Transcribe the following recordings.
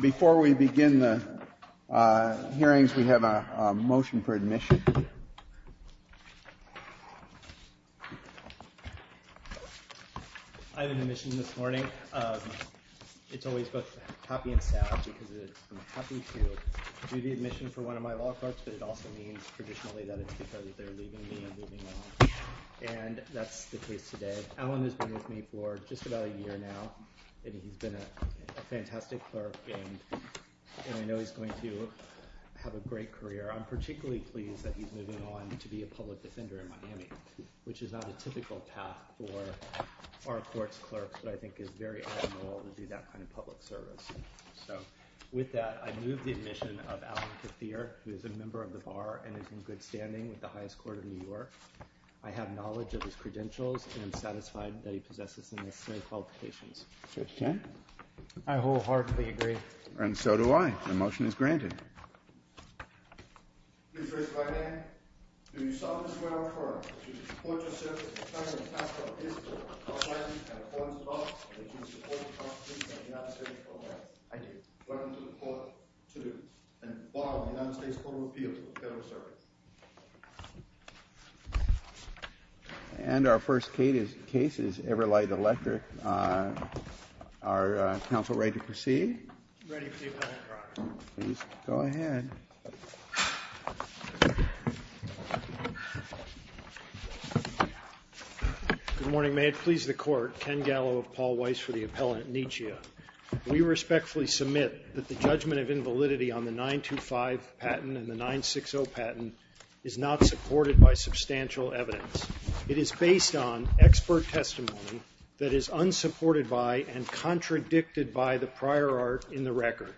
Before we begin the hearings, we have a motion for admission. I have an admission this morning. It's always both happy and sad because I'm happy to do the admission for one of my wall carts, but it also means traditionally that it's because they're leaving me and moving on. And that's the case today. Alan has been with me for just about a year now, and he's been a fantastic clerk, and I know he's going to have a great career. I'm particularly pleased that he's moving on to be a public defender in Miami, which is not a typical path for our courts clerks, but I think is very admirable to do that kind of public service. So, with that, I move the admission of Alan Cathier, who is a member of the Bar and is in good standing with the highest court of New York. I have knowledge of his credentials and I'm satisfied that he possesses the necessary qualifications. I wholeheartedly agree. And so do I. The motion is granted. Please raise your right hand. Go ahead. Good morning. May it please the Court. Ken Gallo of Paul Weiss for the appellant, Nietzsche. We respectfully submit that the judgment of invalidity on the 925 patent and the 960 patent is not supported by substantial evidence. It is based on expert testimony that is unsupported by and contradicted by the prior art in the record.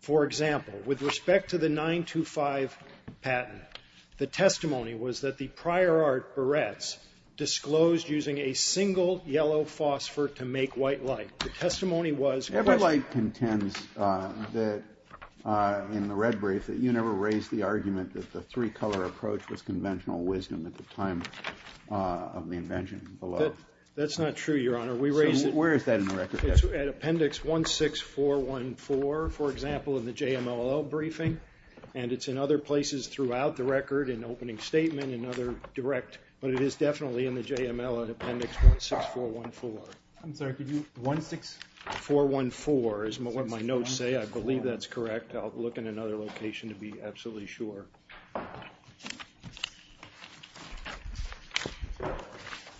For example, with respect to the 925 patent, the testimony was that the prior art barrettes disclosed using a single yellow phosphor to make white light. The testimony was that the red brief that you never raised the argument that the three color approach was conventional wisdom at the time of the invention below. That's not true, Your Honor. We raised it. Where is that in the record? It's at appendix 16414, for example, in the JMLL briefing. And it's in other places throughout the record in opening statement and other direct. But it is definitely in the JMLL appendix 16414. I'm sorry. Could you 16414 is what my notes say. I believe that's correct. I'll look in another location to be absolutely sure.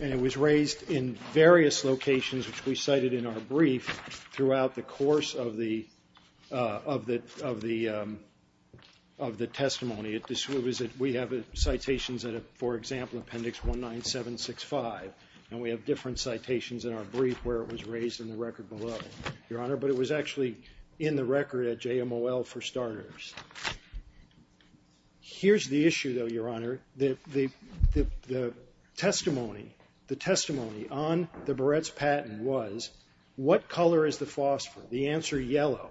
And it was raised in various locations, which we cited in our brief throughout the course of the of the of the of the testimony. It was that we have citations that, for example, appendix one nine seven six five. And we have different citations in our brief where it was raised in the record below your honor. But it was actually in the record at JMLL for starters. Here's the issue, though, Your Honor. The testimony the testimony on the Barrett's patent was what color is the phosphor? The answer yellow.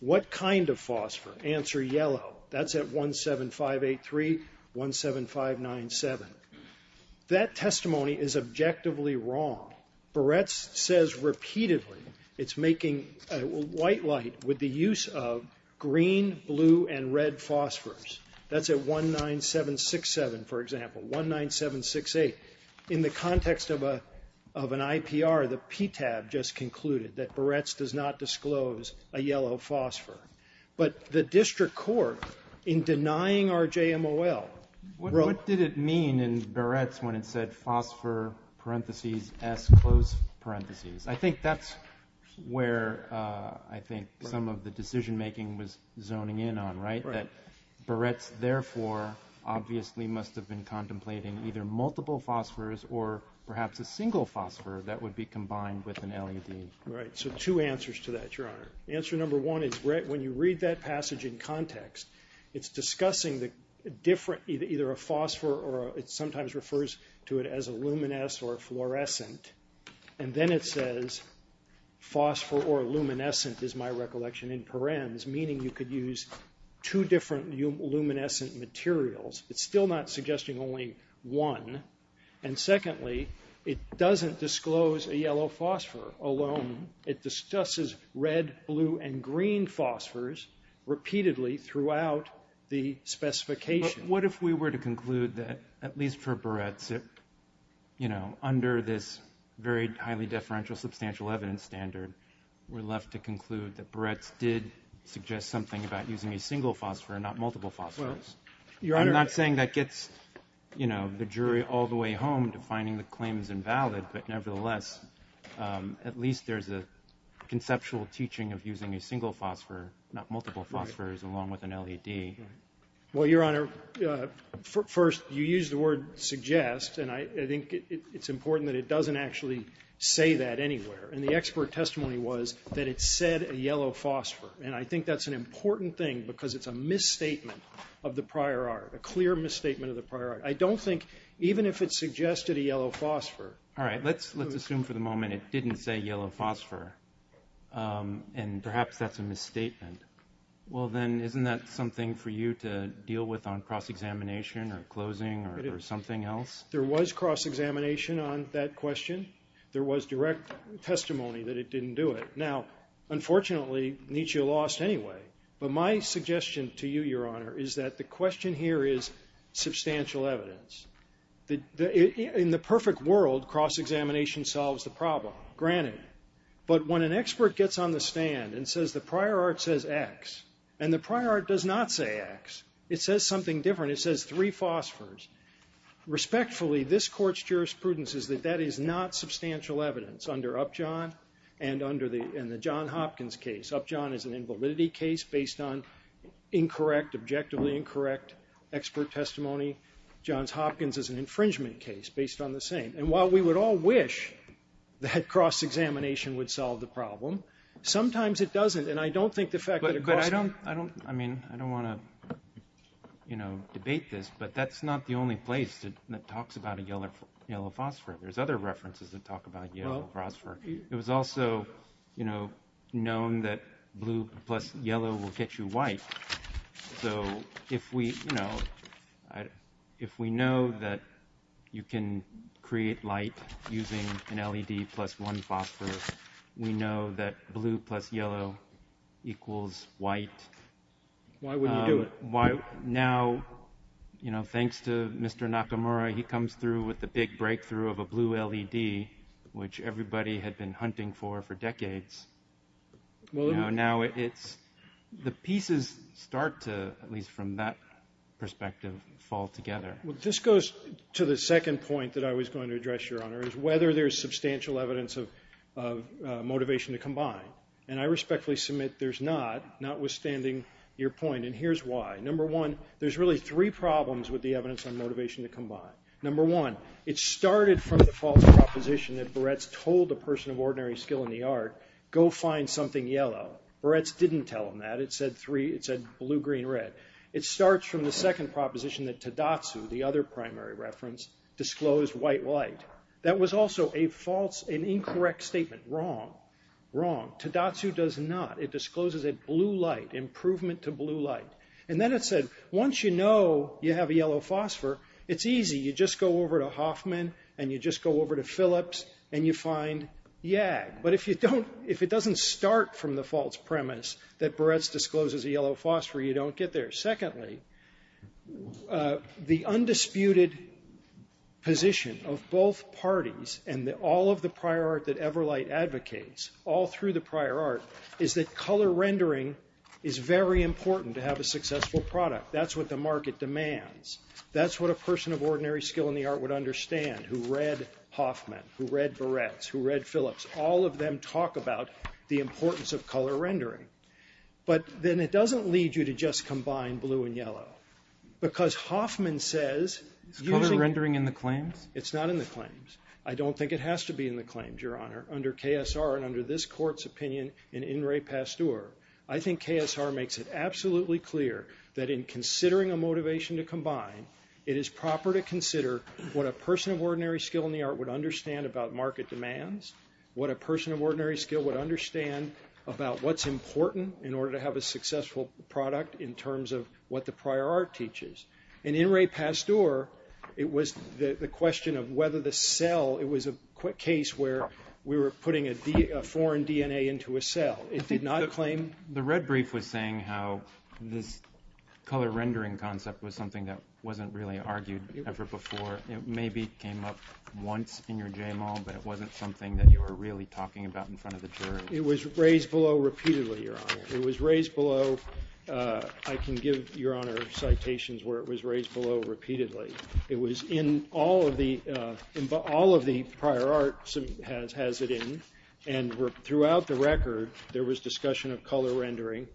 What kind of phosphor? Answer yellow. That's at one seven five eight three one seven five nine seven. That testimony is objectively wrong. Barrett's says repeatedly. It's making white light with the use of green, blue and red phosphors. That's a one nine seven six seven. For example, one nine seven six eight. In the context of a of an IPR, the PTAB just concluded that Barrett's does not disclose a yellow phosphor. But the district court in denying our JMLL. What did it mean in Barrett's when it said phosphor parentheses as close parentheses? I think that's where I think some of the decision making was zoning in on. Right. That Barrett's therefore obviously must have been contemplating either multiple phosphors or perhaps a single phosphor that would be combined with an LED. Right. So two answers to that, Your Honor. Answer number one is when you read that passage in context, it's discussing the different either a phosphor or it sometimes refers to it as a luminous or fluorescent. And then it says phosphor or luminescent is my recollection in params, meaning you could use two different luminescent materials. It's still not suggesting only one. And secondly, it doesn't disclose a yellow phosphor alone. It discusses red, blue and green phosphors repeatedly throughout the specification. But what if we were to conclude that at least for Barrett's, you know, under this very highly deferential substantial evidence standard, we're left to conclude that Barrett's did suggest something about using a single phosphor and not multiple phosphors. Well, Your Honor. I'm not saying that gets, you know, the jury all the way home to finding the claims invalid. But nevertheless, at least there's a conceptual teaching of using a single phosphor, not multiple phosphors, along with an LED. Well, Your Honor, first you use the word suggest, and I think it's important that it doesn't actually say that anywhere. And the expert testimony was that it said a yellow phosphor. And I think that's an important thing because it's a misstatement of the prior art, a clear misstatement of the prior art. I don't think even if it suggested a yellow phosphor. All right. Let's assume for the moment it didn't say yellow phosphor. And perhaps that's a misstatement. Well, then, isn't that something for you to deal with on cross-examination or closing or something else? There was cross-examination on that question. There was direct testimony that it didn't do it. Now, unfortunately, Nietzsche lost anyway. But my suggestion to you, Your Honor, is that the question here is substantial evidence. In the perfect world, cross-examination solves the problem, granted. But when an expert gets on the stand and says the prior art says X and the prior art does not say X, it says something different. It says three phosphors. Respectfully, this Court's jurisprudence is that that is not substantial evidence under Upjohn and the John Hopkins case. Upjohn is an invalidity case based on incorrect, objectively incorrect expert testimony. Johns Hopkins is an infringement case based on the same. And while we would all wish that cross-examination would solve the problem, sometimes it doesn't. And I don't think the fact that a cross- But I don't, I mean, I don't want to, you know, debate this, but that's not the only place that talks about a yellow phosphor. There's other references that talk about yellow phosphor. It was also, you know, known that blue plus yellow will get you white. So if we, you know, if we know that you can create light using an LED plus one phosphor, we know that blue plus yellow equals white. Why wouldn't you do it? Now, you know, thanks to Mr. Nakamura, he comes through with the big breakthrough of a blue LED, which everybody had been hunting for for decades. Now it's, the pieces start to, at least from that perspective, fall together. Well, this goes to the second point that I was going to address, Your Honor, is whether there's substantial evidence of motivation to combine. And I respectfully submit there's not, notwithstanding your point. And here's why. Number one, there's really three problems with the evidence on motivation to combine. Number one, it started from the false proposition that Barretts told a person of ordinary skill in the art, go find something yellow. Barretts didn't tell him that. It said three, it said blue, green, red. It starts from the second proposition that Tadatsu, the other primary reference, disclosed white light. That was also a false, an incorrect statement. Wrong. Wrong. Tadatsu does not. It discloses a blue light, improvement to blue light. And then it said, once you know you have a yellow phosphor, it's easy. You just go over to Hoffman, and you just go over to Phillips, and you find YAG. But if you don't, if it doesn't start from the false premise that Barretts discloses a yellow phosphor, you don't get there. Secondly, the undisputed position of both parties and all of the prior art that Everlight advocates, all through the prior art, is that color rendering is very important to have a successful product. That's what the market demands. That's what a person of ordinary skill in the art would understand who read Hoffman, who read Barretts, who read Phillips. All of them talk about the importance of color rendering. But then it doesn't lead you to just combine blue and yellow. Because Hoffman says, using… Is color rendering in the claims? It's not in the claims. I don't think it has to be in the claims, Your Honor, under KSR and under this court's opinion in In re Pasteur. I think KSR makes it absolutely clear that in considering a motivation to combine, it is proper to consider what a person of ordinary skill in the art would understand about market demands, what a person of ordinary skill would understand about what's important in order to have a successful product in terms of what the prior art teaches. And in re Pasteur, it was the question of whether the cell… It was a case where we were putting a foreign DNA into a cell. It did not claim… The red brief was saying how this color rendering concept was something that wasn't really argued ever before. It maybe came up once in your JMO, but it wasn't something that you were really talking about in front of the jury. It was raised below repeatedly, Your Honor. It was raised below… I can give Your Honor citations where it was raised below repeatedly. It was in all of the… All of the prior art has it in. And throughout the record, there was discussion of color rendering.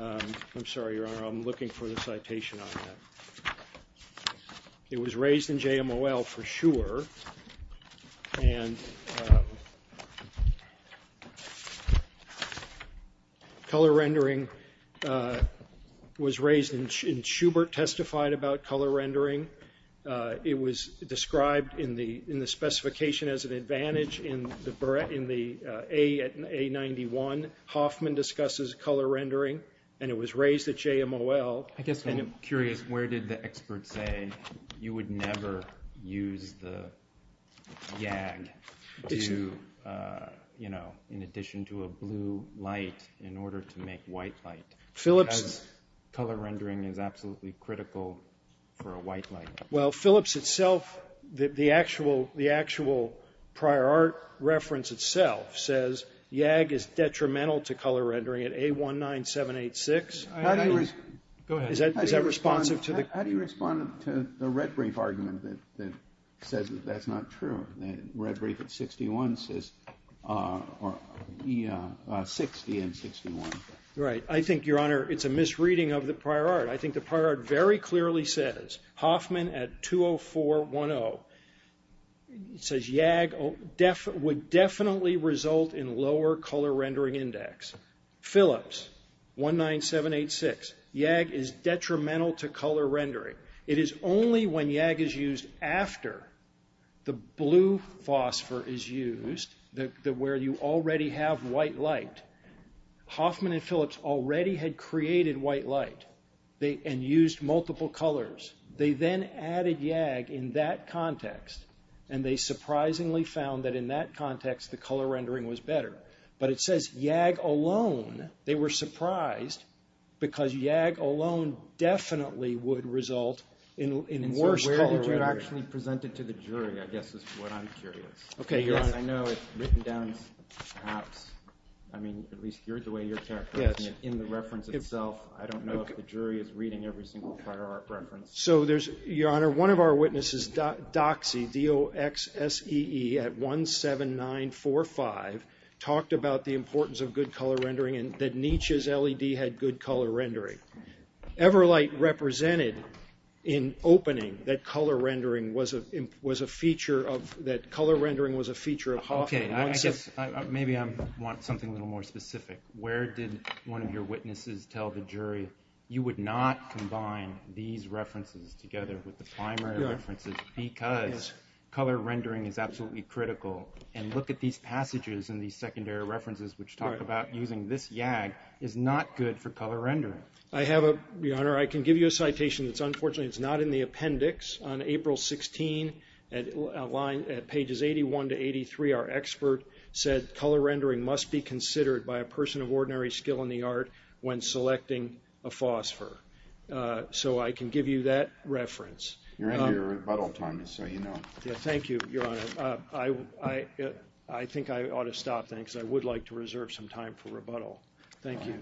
I'm sorry, Your Honor. I'm looking for the citation on that. It was raised in JMOL for sure. And color rendering was raised, and Schubert testified about color rendering. It was described in the specification as an advantage in the A91. Hoffman discusses color rendering, and it was raised at JMOL. I guess I'm curious, where did the experts say you would never use the YAG in addition to a blue light in order to make white light? Because color rendering is absolutely critical for a white light. Well, Phillips itself, the actual prior art reference itself says YAG is detrimental to color rendering at A19786. Go ahead. Is that responsive to the… How do you respond to the Redbrief argument that says that that's not true? Redbrief at 61 says… 60 and 61. Right. I think, Your Honor, it's a misreading of the prior art. I think the prior art very clearly says Hoffman at 20410 says YAG would definitely result in lower color rendering index. Phillips, A19786, YAG is detrimental to color rendering. It is only when YAG is used after the blue phosphor is used, where you already have white light. Hoffman and Phillips already had created white light and used multiple colors. They then added YAG in that context, and they surprisingly found that in that context the color rendering was better. But it says YAG alone. They were surprised because YAG alone definitely would result in worse color rendering. And so where did you actually present it to the jury, I guess, is what I'm curious. Okay, Your Honor. I know it's written down perhaps. I mean, at least here's the way you're characterizing it in the reference itself. I don't know if the jury is reading every single prior art reference. So there's, Your Honor, one of our witnesses, Doxe, D-O-X-S-E-E at 17945, talked about the importance of good color rendering and that Nietzsche's LED had good color rendering. Everlight represented in opening that color rendering was a feature of Hoffman. Okay, I guess maybe I want something a little more specific. Where did one of your witnesses tell the jury you would not combine these references together with the primary references because color rendering is absolutely critical? And look at these passages in these secondary references which talk about using this YAG is not good for color rendering. I have a, Your Honor, I can give you a citation that's unfortunately not in the appendix. On April 16, at pages 81 to 83, our expert said, color rendering must be considered by a person of ordinary skill in the art when selecting a phosphor. So I can give you that reference. You're into your rebuttal time, so you know. Thank you, Your Honor. I think I ought to stop then because I would like to reserve some time for rebuttal. Thank you.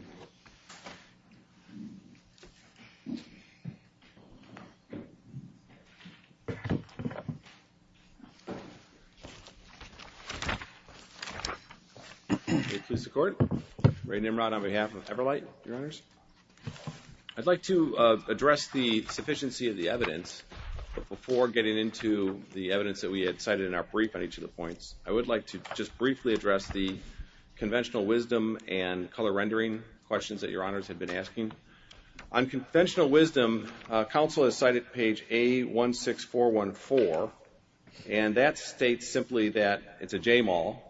May it please the Court. Ray Nimrod on behalf of Everlight, Your Honors. I'd like to address the sufficiency of the evidence before getting into the evidence that we had cited in our brief on each of the points. I would like to just briefly address the conventional wisdom and color rendering questions that Your Honors had been asking. On conventional wisdom, counsel has cited page A16414, and that states simply that it's a Jamal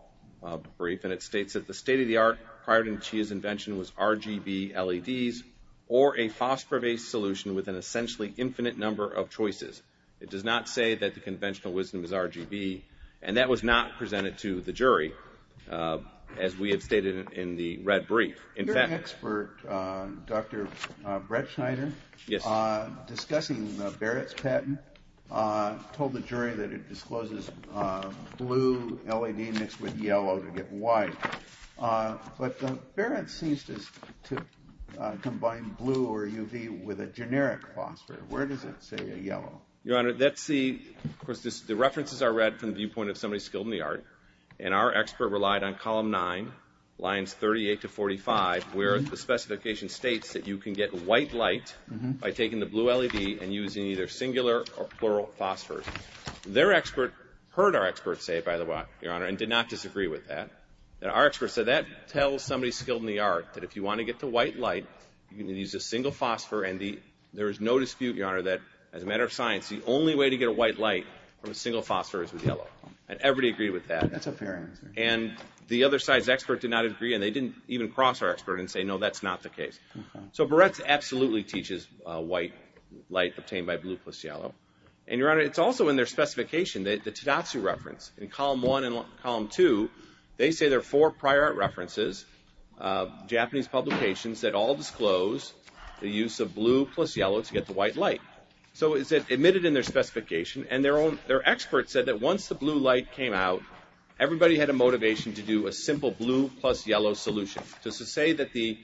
brief, and it states that the state-of-the-art prior to his invention was RGB LEDs or a phosphor-based solution with an essentially infinite number of choices. It does not say that the conventional wisdom is RGB, and that was not presented to the jury, as we have stated in the red brief. Your expert, Dr. Brett Schneider, discussing Barrett's patent, told the jury that it discloses blue LED mixed with yellow to get white. But Barrett seems to combine blue or UV with a generic phosphor. Where does it say yellow? Your Honor, the references are read from the viewpoint of somebody skilled in the art, and our expert relied on column 9, lines 38 to 45, where the specification states that you can get white light by taking the blue LED and using either singular or plural phosphors. Their expert heard our expert say, by the way, Your Honor, and did not disagree with that. Our expert said that tells somebody skilled in the art that if you want to get the white light, you can use a single phosphor, and there is no dispute, Your Honor, that as a matter of science, the only way to get a white light from a single phosphor is with yellow. And everybody agreed with that. That's a fair answer. And the other side's expert did not agree, and they didn't even cross our expert and say, no, that's not the case. So Barrett absolutely teaches white light obtained by blue plus yellow. And, Your Honor, it's also in their specification, the Tadasu reference, in column 1 and column 2, they say there are four prior art references, Japanese publications, that all disclose the use of blue plus yellow to get the white light. So it's admitted in their specification, and their expert said that once the blue light came out, everybody had a motivation to do a simple blue plus yellow solution. Just to say that the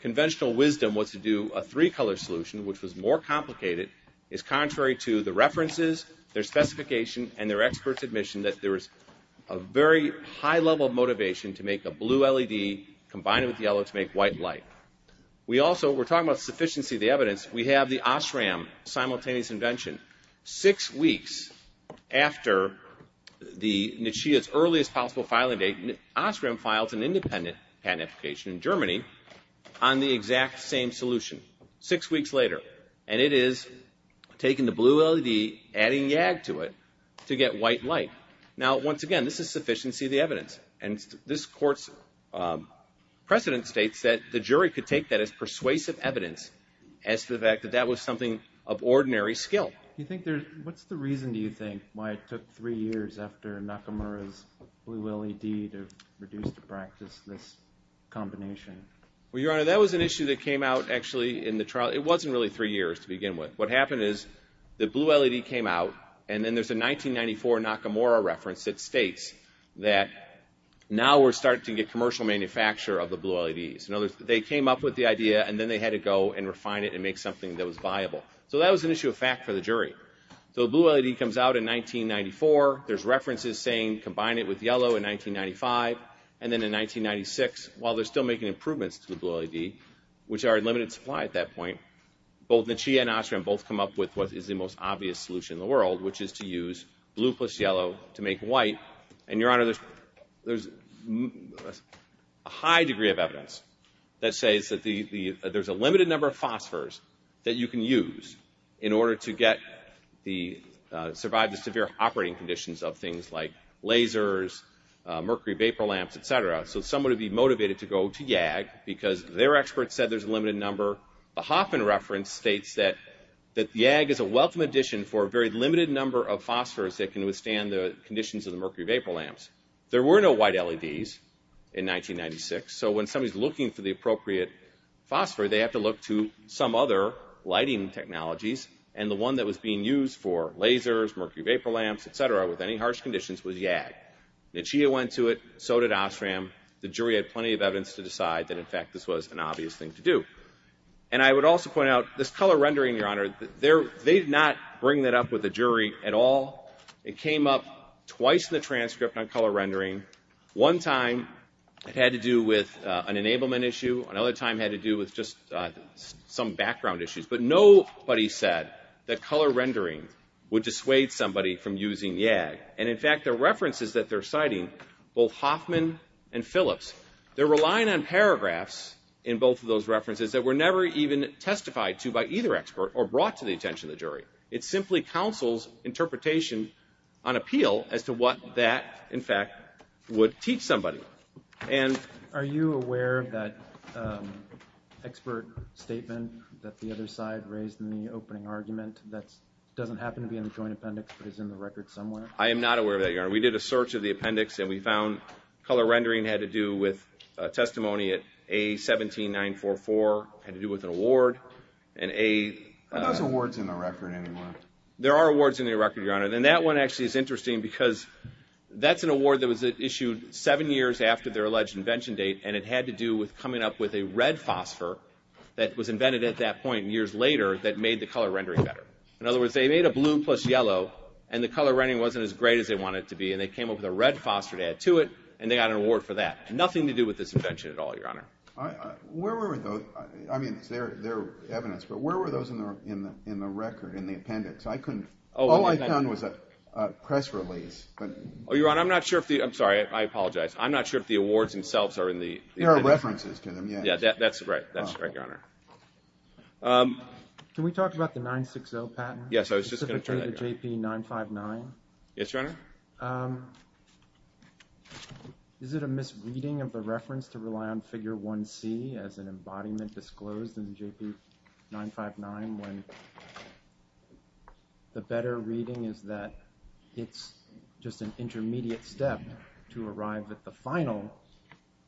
conventional wisdom was to do a three-color solution, which was more complicated, is contrary to the references, their specification, and their expert's admission that there is a very high level of motivation to make a blue LED combine it with yellow to make white light. We also were talking about sufficiency of the evidence. We have the OSRAM simultaneous invention. Six weeks after the Nishiya's earliest possible filing date, OSRAM files an independent patent application in Germany on the exact same solution. Six weeks later, and it is taking the blue LED, adding YAG to it to get white light. Now, once again, this is sufficiency of the evidence. And this court's precedent states that the jury could take that as persuasive evidence as to the fact that that was something of ordinary skill. What's the reason, do you think, why it took three years after Nakamura's blue LED to produce, to practice this combination? Well, Your Honor, that was an issue that came out actually in the trial. It wasn't really three years to begin with. What happened is the blue LED came out, and then there's a 1994 Nakamura reference that states that now we're starting to get commercial manufacture of the blue LEDs. They came up with the idea, and then they had to go and refine it and make something that was viable. So that was an issue of fact for the jury. So the blue LED comes out in 1994. There's references saying combine it with yellow in 1995, and then in 1996, while they're still making improvements to the blue LED, which are in limited supply at that point, both the CHIA and OSRAM both come up with what is the most obvious solution in the world, which is to use blue plus yellow to make white. And, Your Honor, there's a high degree of evidence that says that there's a limited number of phosphors that you can use in order to survive the severe operating conditions of things like lasers, mercury vapor lamps, et cetera. So someone would be motivated to go to YAG because their experts said there's a limited number. The Hoffman reference states that YAG is a welcome addition for a very limited number of phosphors that can withstand the conditions of the mercury vapor lamps. There were no white LEDs in 1996. So when somebody's looking for the appropriate phosphor, they have to look to some other lighting technologies. And the one that was being used for lasers, mercury vapor lamps, et cetera, with any harsh conditions was YAG. The CHIA went to it, so did OSRAM. The jury had plenty of evidence to decide that, in fact, this was an obvious thing to do. And I would also point out this color rendering, Your Honor, they did not bring that up with the jury at all. It came up twice in the transcript on color rendering. One time it had to do with an enablement issue. Another time it had to do with just some background issues. But nobody said that color rendering would dissuade somebody from using YAG. And, in fact, the references that they're citing, both Hoffman and Phillips, they're relying on paragraphs in both of those references that were never even testified to by either expert or brought to the attention of the jury. It simply counsels interpretation on appeal as to what that, in fact, would teach somebody. And are you aware of that expert statement that the other side raised in the opening argument that doesn't happen to be in the joint appendix but is in the record somewhere? I am not aware of that, Your Honor. We did a search of the appendix and we found color rendering had to do with testimony at A17944. It had to do with an award. Are those awards in the record anymore? There are awards in the record, Your Honor. And that one actually is interesting because that's an award that was issued seven years after their alleged invention date. And it had to do with coming up with a red phosphor that was invented at that point years later that made the color rendering better. In other words, they made a blue plus yellow, and the color rendering wasn't as great as they wanted it to be. And they came up with a red phosphor to add to it, and they got an award for that. Nothing to do with this invention at all, Your Honor. Where were those? I mean, they're evidence. But where were those in the appendix? All I found was a press release. Oh, Your Honor, I'm not sure if the – I'm sorry. I apologize. I'm not sure if the awards themselves are in the appendix. There are references to them, yes. Yeah, that's right. That's right, Your Honor. Can we talk about the 960 patent? Yes, I was just going to turn that. Specifically the JP959? Yes, Your Honor. Is it a misreading of the reference to rely on figure 1C as an embodiment disclosed in JP959 when the better reading is that it's just an intermediate step to arrive at the final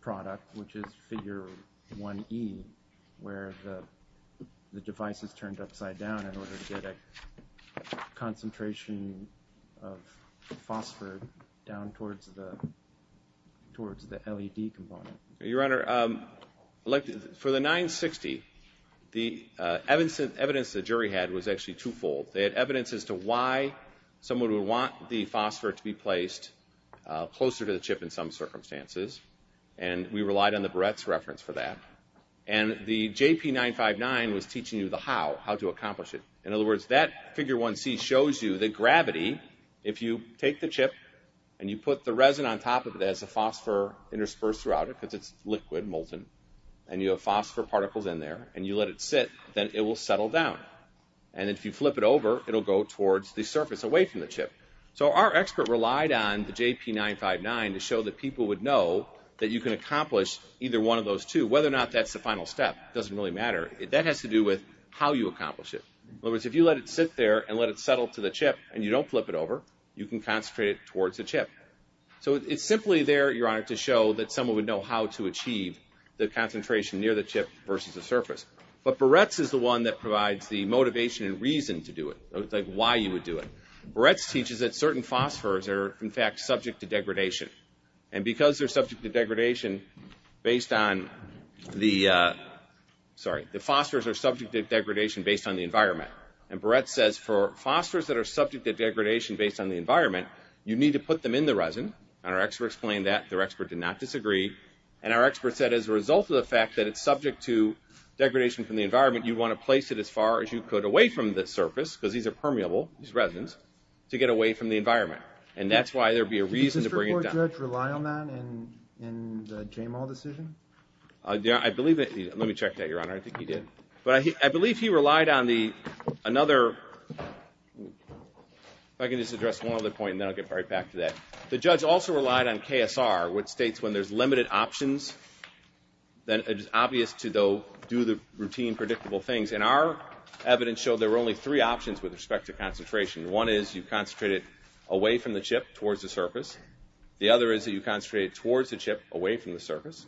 product, which is figure 1E, where the device is turned upside down in order to get a concentration of phosphor down towards the LED component? Your Honor, for the 960, the evidence the jury had was actually twofold. They had evidence as to why someone would want the phosphor to be placed closer to the chip in some circumstances, and we relied on the Barrett's reference for that. And the JP959 was teaching you the how, how to accomplish it. In other words, that figure 1C shows you the gravity. If you take the chip and you put the resin on top of it as the phosphor interspersed throughout it, because it's liquid, molten, and you have phosphor particles in there, and you let it sit, then it will settle down. And if you flip it over, it will go towards the surface away from the chip. So our expert relied on the JP959 to show that people would know that you can accomplish either one of those two. Whether or not that's the final step doesn't really matter. That has to do with how you accomplish it. In other words, if you let it sit there and let it settle to the chip and you don't flip it over, you can concentrate it towards the chip. So it's simply there, Your Honor, to show that someone would know how to achieve the concentration near the chip versus the surface. But Barrett's is the one that provides the motivation and reason to do it, like why you would do it. Barrett's teaches that certain phosphors are, in fact, subject to degradation. And because they're subject to degradation based on the, sorry, the phosphors are subject to degradation based on the environment. And Barrett's says for phosphors that are subject to degradation based on the environment, you need to put them in the resin. And our expert explained that. Their expert did not disagree. And our expert said as a result of the fact that it's subject to degradation from the environment, you want to place it as far as you could away from the surface, because these are permeable, these resins, to get away from the environment. And that's why there would be a reason to bring it down. Did the Supreme Court judge rely on that in the Jamal decision? I believe that he, let me check that, Your Honor. I think he did. But I believe he relied on the, another, if I can just address one other point and then I'll get right back to that. The judge also relied on KSR, which states when there's limited options, then it is obvious to, though, do the routine predictable things. And our evidence showed there were only three options with respect to concentration. One is you concentrate it away from the chip towards the surface. The other is that you concentrate it towards the chip away from the surface.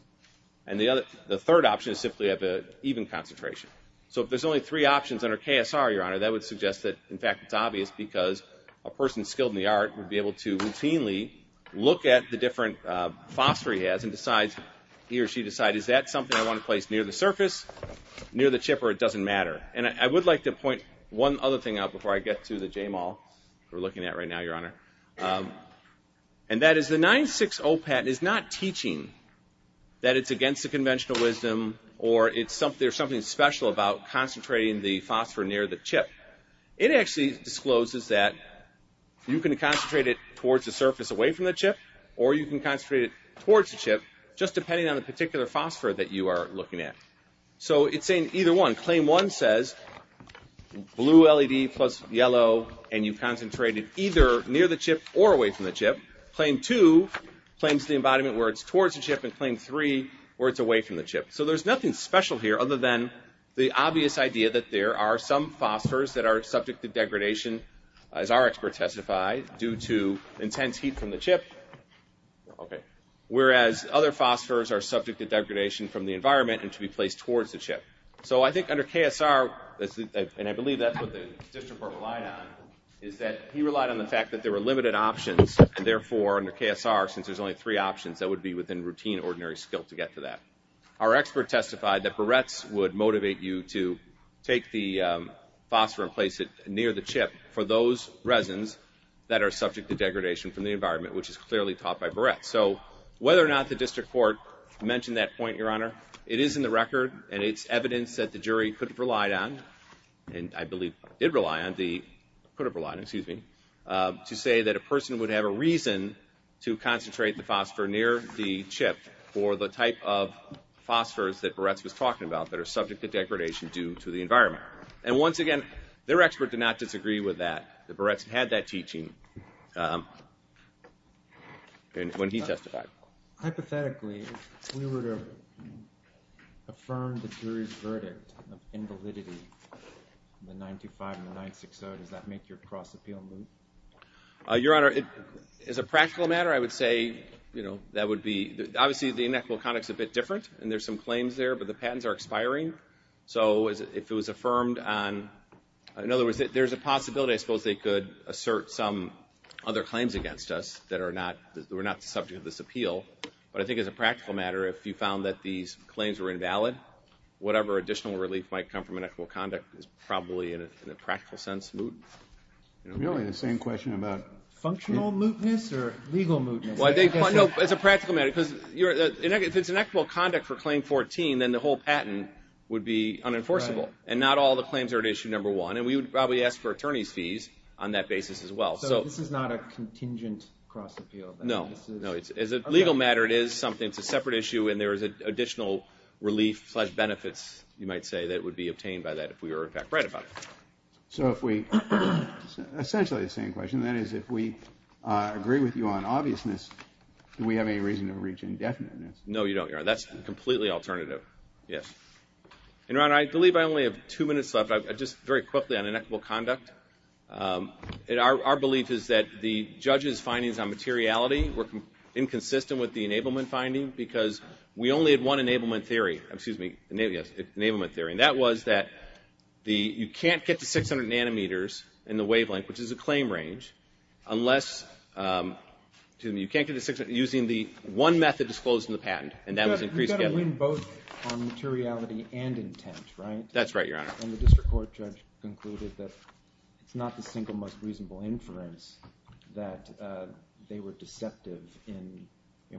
And the third option is simply have an even concentration. So if there's only three options under KSR, Your Honor, that would suggest that, in fact, it's obvious because a person skilled in the art would be able to routinely look at the different phosphor he has and decides, he or she decides, is that something I want to place near the surface, near the chip, or it doesn't matter? And I would like to point one other thing out before I get to the Jamal we're looking at right now, Your Honor. And that is the 960 patent is not teaching that it's against the conventional wisdom or there's something special about concentrating the phosphor near the chip. It actually discloses that you can concentrate it towards the surface away from the chip or you can concentrate it towards the chip just depending on the particular phosphor that you are looking at. So it's saying either one. Claim one says blue LED plus yellow and you concentrate it either near the chip or away from the chip. Claim two claims the embodiment where it's towards the chip and claim three where it's away from the chip. So there's nothing special here other than the obvious idea that there are some phosphors that are subject to degradation, as our experts testify, due to intense heat from the chip, whereas other phosphors are subject to degradation from the environment and to be placed towards the chip. So I think under KSR, and I believe that's what the district court relied on, is that he relied on the fact that there were limited options and therefore under KSR, since there's only three options, that would be within routine, ordinary skill to get to that. Our expert testified that barrettes would motivate you to take the phosphor and place it near the chip for those resins that are subject to degradation from the environment, which is clearly taught by barrettes. So whether or not the district court mentioned that point, Your Honor, it is in the record and it's evidence that the jury could have relied on, and I believe did rely on, to say that a person would have a reason to concentrate the phosphor near the chip for the type of phosphors that barrettes was talking about that are subject to degradation due to the environment. And once again, their expert did not disagree with that. The barrettes had that teaching when he testified. Hypothetically, if we were to affirm the jury's verdict of invalidity in the 925 and the 960, does that make your cross-appeal moot? Your Honor, as a practical matter, I would say, you know, that would be, obviously the inequitable conduct's a bit different and there's some claims there, but the patents are expiring. So if it was affirmed on, in other words, there's a possibility I suppose they could assert some other claims against us that were not subject to this appeal. But I think as a practical matter, if you found that these claims were invalid, whatever additional relief might come from inequitable conduct is probably, in a practical sense, moot. Really, the same question about functional mootness or legal mootness? No, as a practical matter, because if it's inequitable conduct for Claim 14, then the whole patent would be unenforceable and not all the claims are at Issue No. 1, and we would probably ask for attorney's fees on that basis as well. So this is not a contingent cross-appeal? No, no. As a legal matter, it is something, it's a separate issue, and there is additional relief-slash-benefits, you might say, that would be obtained by that if we were in fact right about it. So if we, essentially the same question, that is, if we agree with you on obviousness, do we have any reason to reach indefiniteness? No, you don't, Your Honor. That's completely alternative. Yes. And, Your Honor, I believe I only have two minutes left. Just very quickly on inequitable conduct. Our belief is that the judge's findings on materiality were inconsistent with the enablement finding because we only had one enablement theory, excuse me, enablement theory, and that was that you can't get to 600 nanometers in the wavelength, which is a claim range, unless, excuse me, you can't get to 600 using the one method disclosed in the patent, and that was increased scalability. You've got to win both on materiality and intent, right? That's right, Your Honor. And the district court judge concluded that it's not the single most reasonable inference that they were deceptive in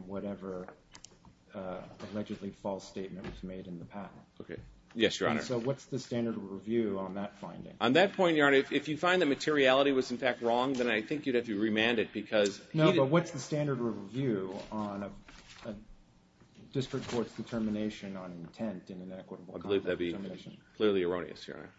whatever allegedly false statement was made in the patent. Okay. Yes, Your Honor. So what's the standard of review on that finding? On that point, Your Honor, if you find that materiality was, in fact, wrong, then I think you'd have to remand it because he— No, but what's the standard of review on a district court's determination on intent and inequitable conduct determination? I believe that would be clearly erroneous, Your Honor.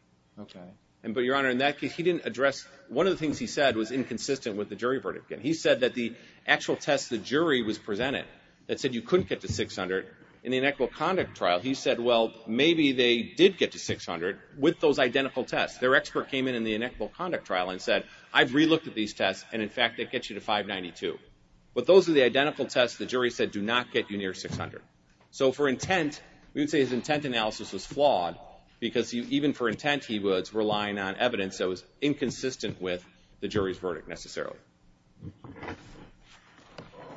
Okay. But, Your Honor, in that case, he didn't address— one of the things he said was inconsistent with the jury verdict. He said that the actual test the jury was presented that said you couldn't get to 600, in the inequitable conduct trial, he said, well, maybe they did get to 600 with those identical tests. Their expert came in in the inequitable conduct trial and said, I've relooked at these tests, and, in fact, they get you to 592. But those are the identical tests the jury said do not get you near 600. So, for intent, we would say his intent analysis was flawed because even for intent, he was relying on evidence that was inconsistent with the jury's verdict necessarily.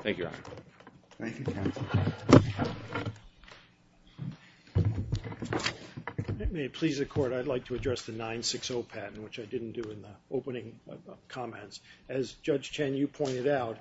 Thank you, Your Honor. Thank you, counsel. If it may please the Court, I'd like to address the 960 patent, which I didn't do in the opening comments. As Judge Chen, you pointed out,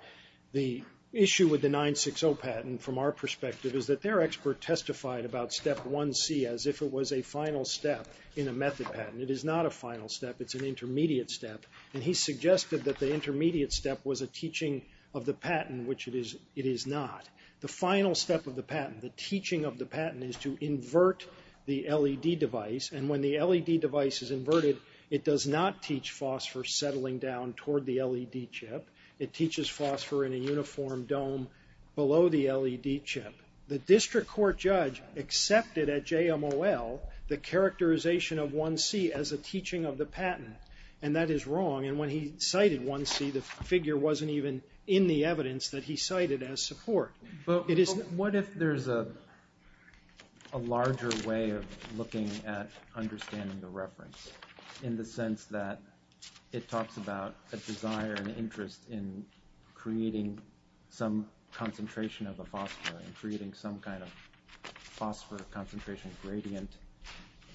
the issue with the 960 patent, from our perspective, is that their expert testified about Step 1C as if it was a final step in a method patent. It is not a final step. It's an intermediate step. And he suggested that the intermediate step was a teaching of the patent, which it is not. The final step of the patent, the teaching of the patent, is to invert the LED device. And when the LED device is inverted, it does not teach phosphor settling down toward the LED chip. It teaches phosphor in a uniform dome below the LED chip. The district court judge accepted at JMOL the characterization of 1C as a teaching of the patent. And that is wrong. And when he cited 1C, the figure wasn't even in the evidence that he cited as support. What if there's a larger way of looking at understanding the reference in the sense that it talks about a desire, an interest in creating some concentration of a phosphor and creating some kind of phosphor concentration gradient.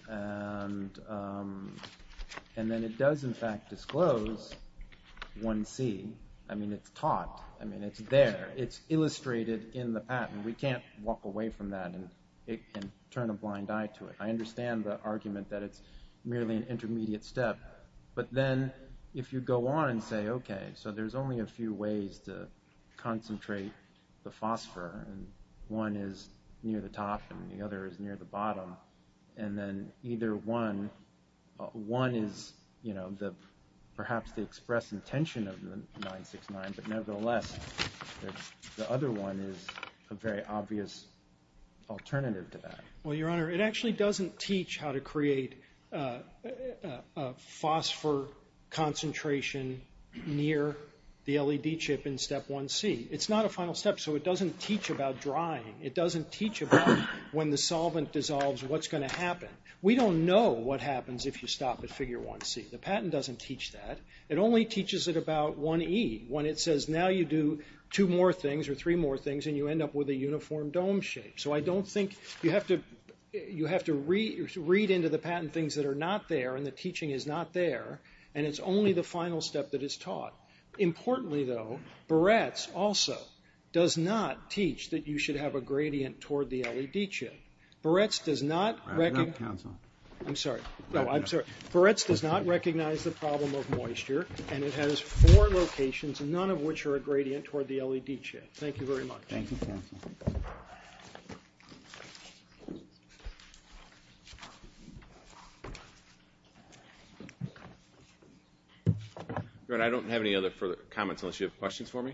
And then it does, in fact, disclose 1C. I mean, it's taught. I mean, it's there. It's illustrated in the patent. We can't walk away from that and turn a blind eye to it. I understand the argument that it's merely an intermediate step. But then if you go on and say, okay, so there's only a few ways to concentrate the phosphor. And one is near the top and the other is near the bottom. And then either one, one is, you know, perhaps the express intention of the 969. But nevertheless, the other one is a very obvious alternative to that. Well, Your Honor, it actually doesn't teach how to create a phosphor concentration near the LED chip in Step 1C. It's not a final step, so it doesn't teach about drying. It doesn't teach about when the solvent dissolves, what's going to happen. We don't know what happens if you stop at Figure 1C. The patent doesn't teach that. It only teaches it about 1E when it says now you do two more things or three more things and you end up with a uniform dome shape. So I don't think you have to read into the patent things that are not there and the teaching is not there, and it's only the final step that is taught. Importantly, though, Barretts also does not teach that you should have a gradient toward the LED chip. Barretts does not recognize the problem of moisture, and it has four locations, none of which are a gradient toward the LED chip. Thank you very much. Thank you, counsel. Your Honor, I don't have any other further comments unless you have questions for me. Thank you.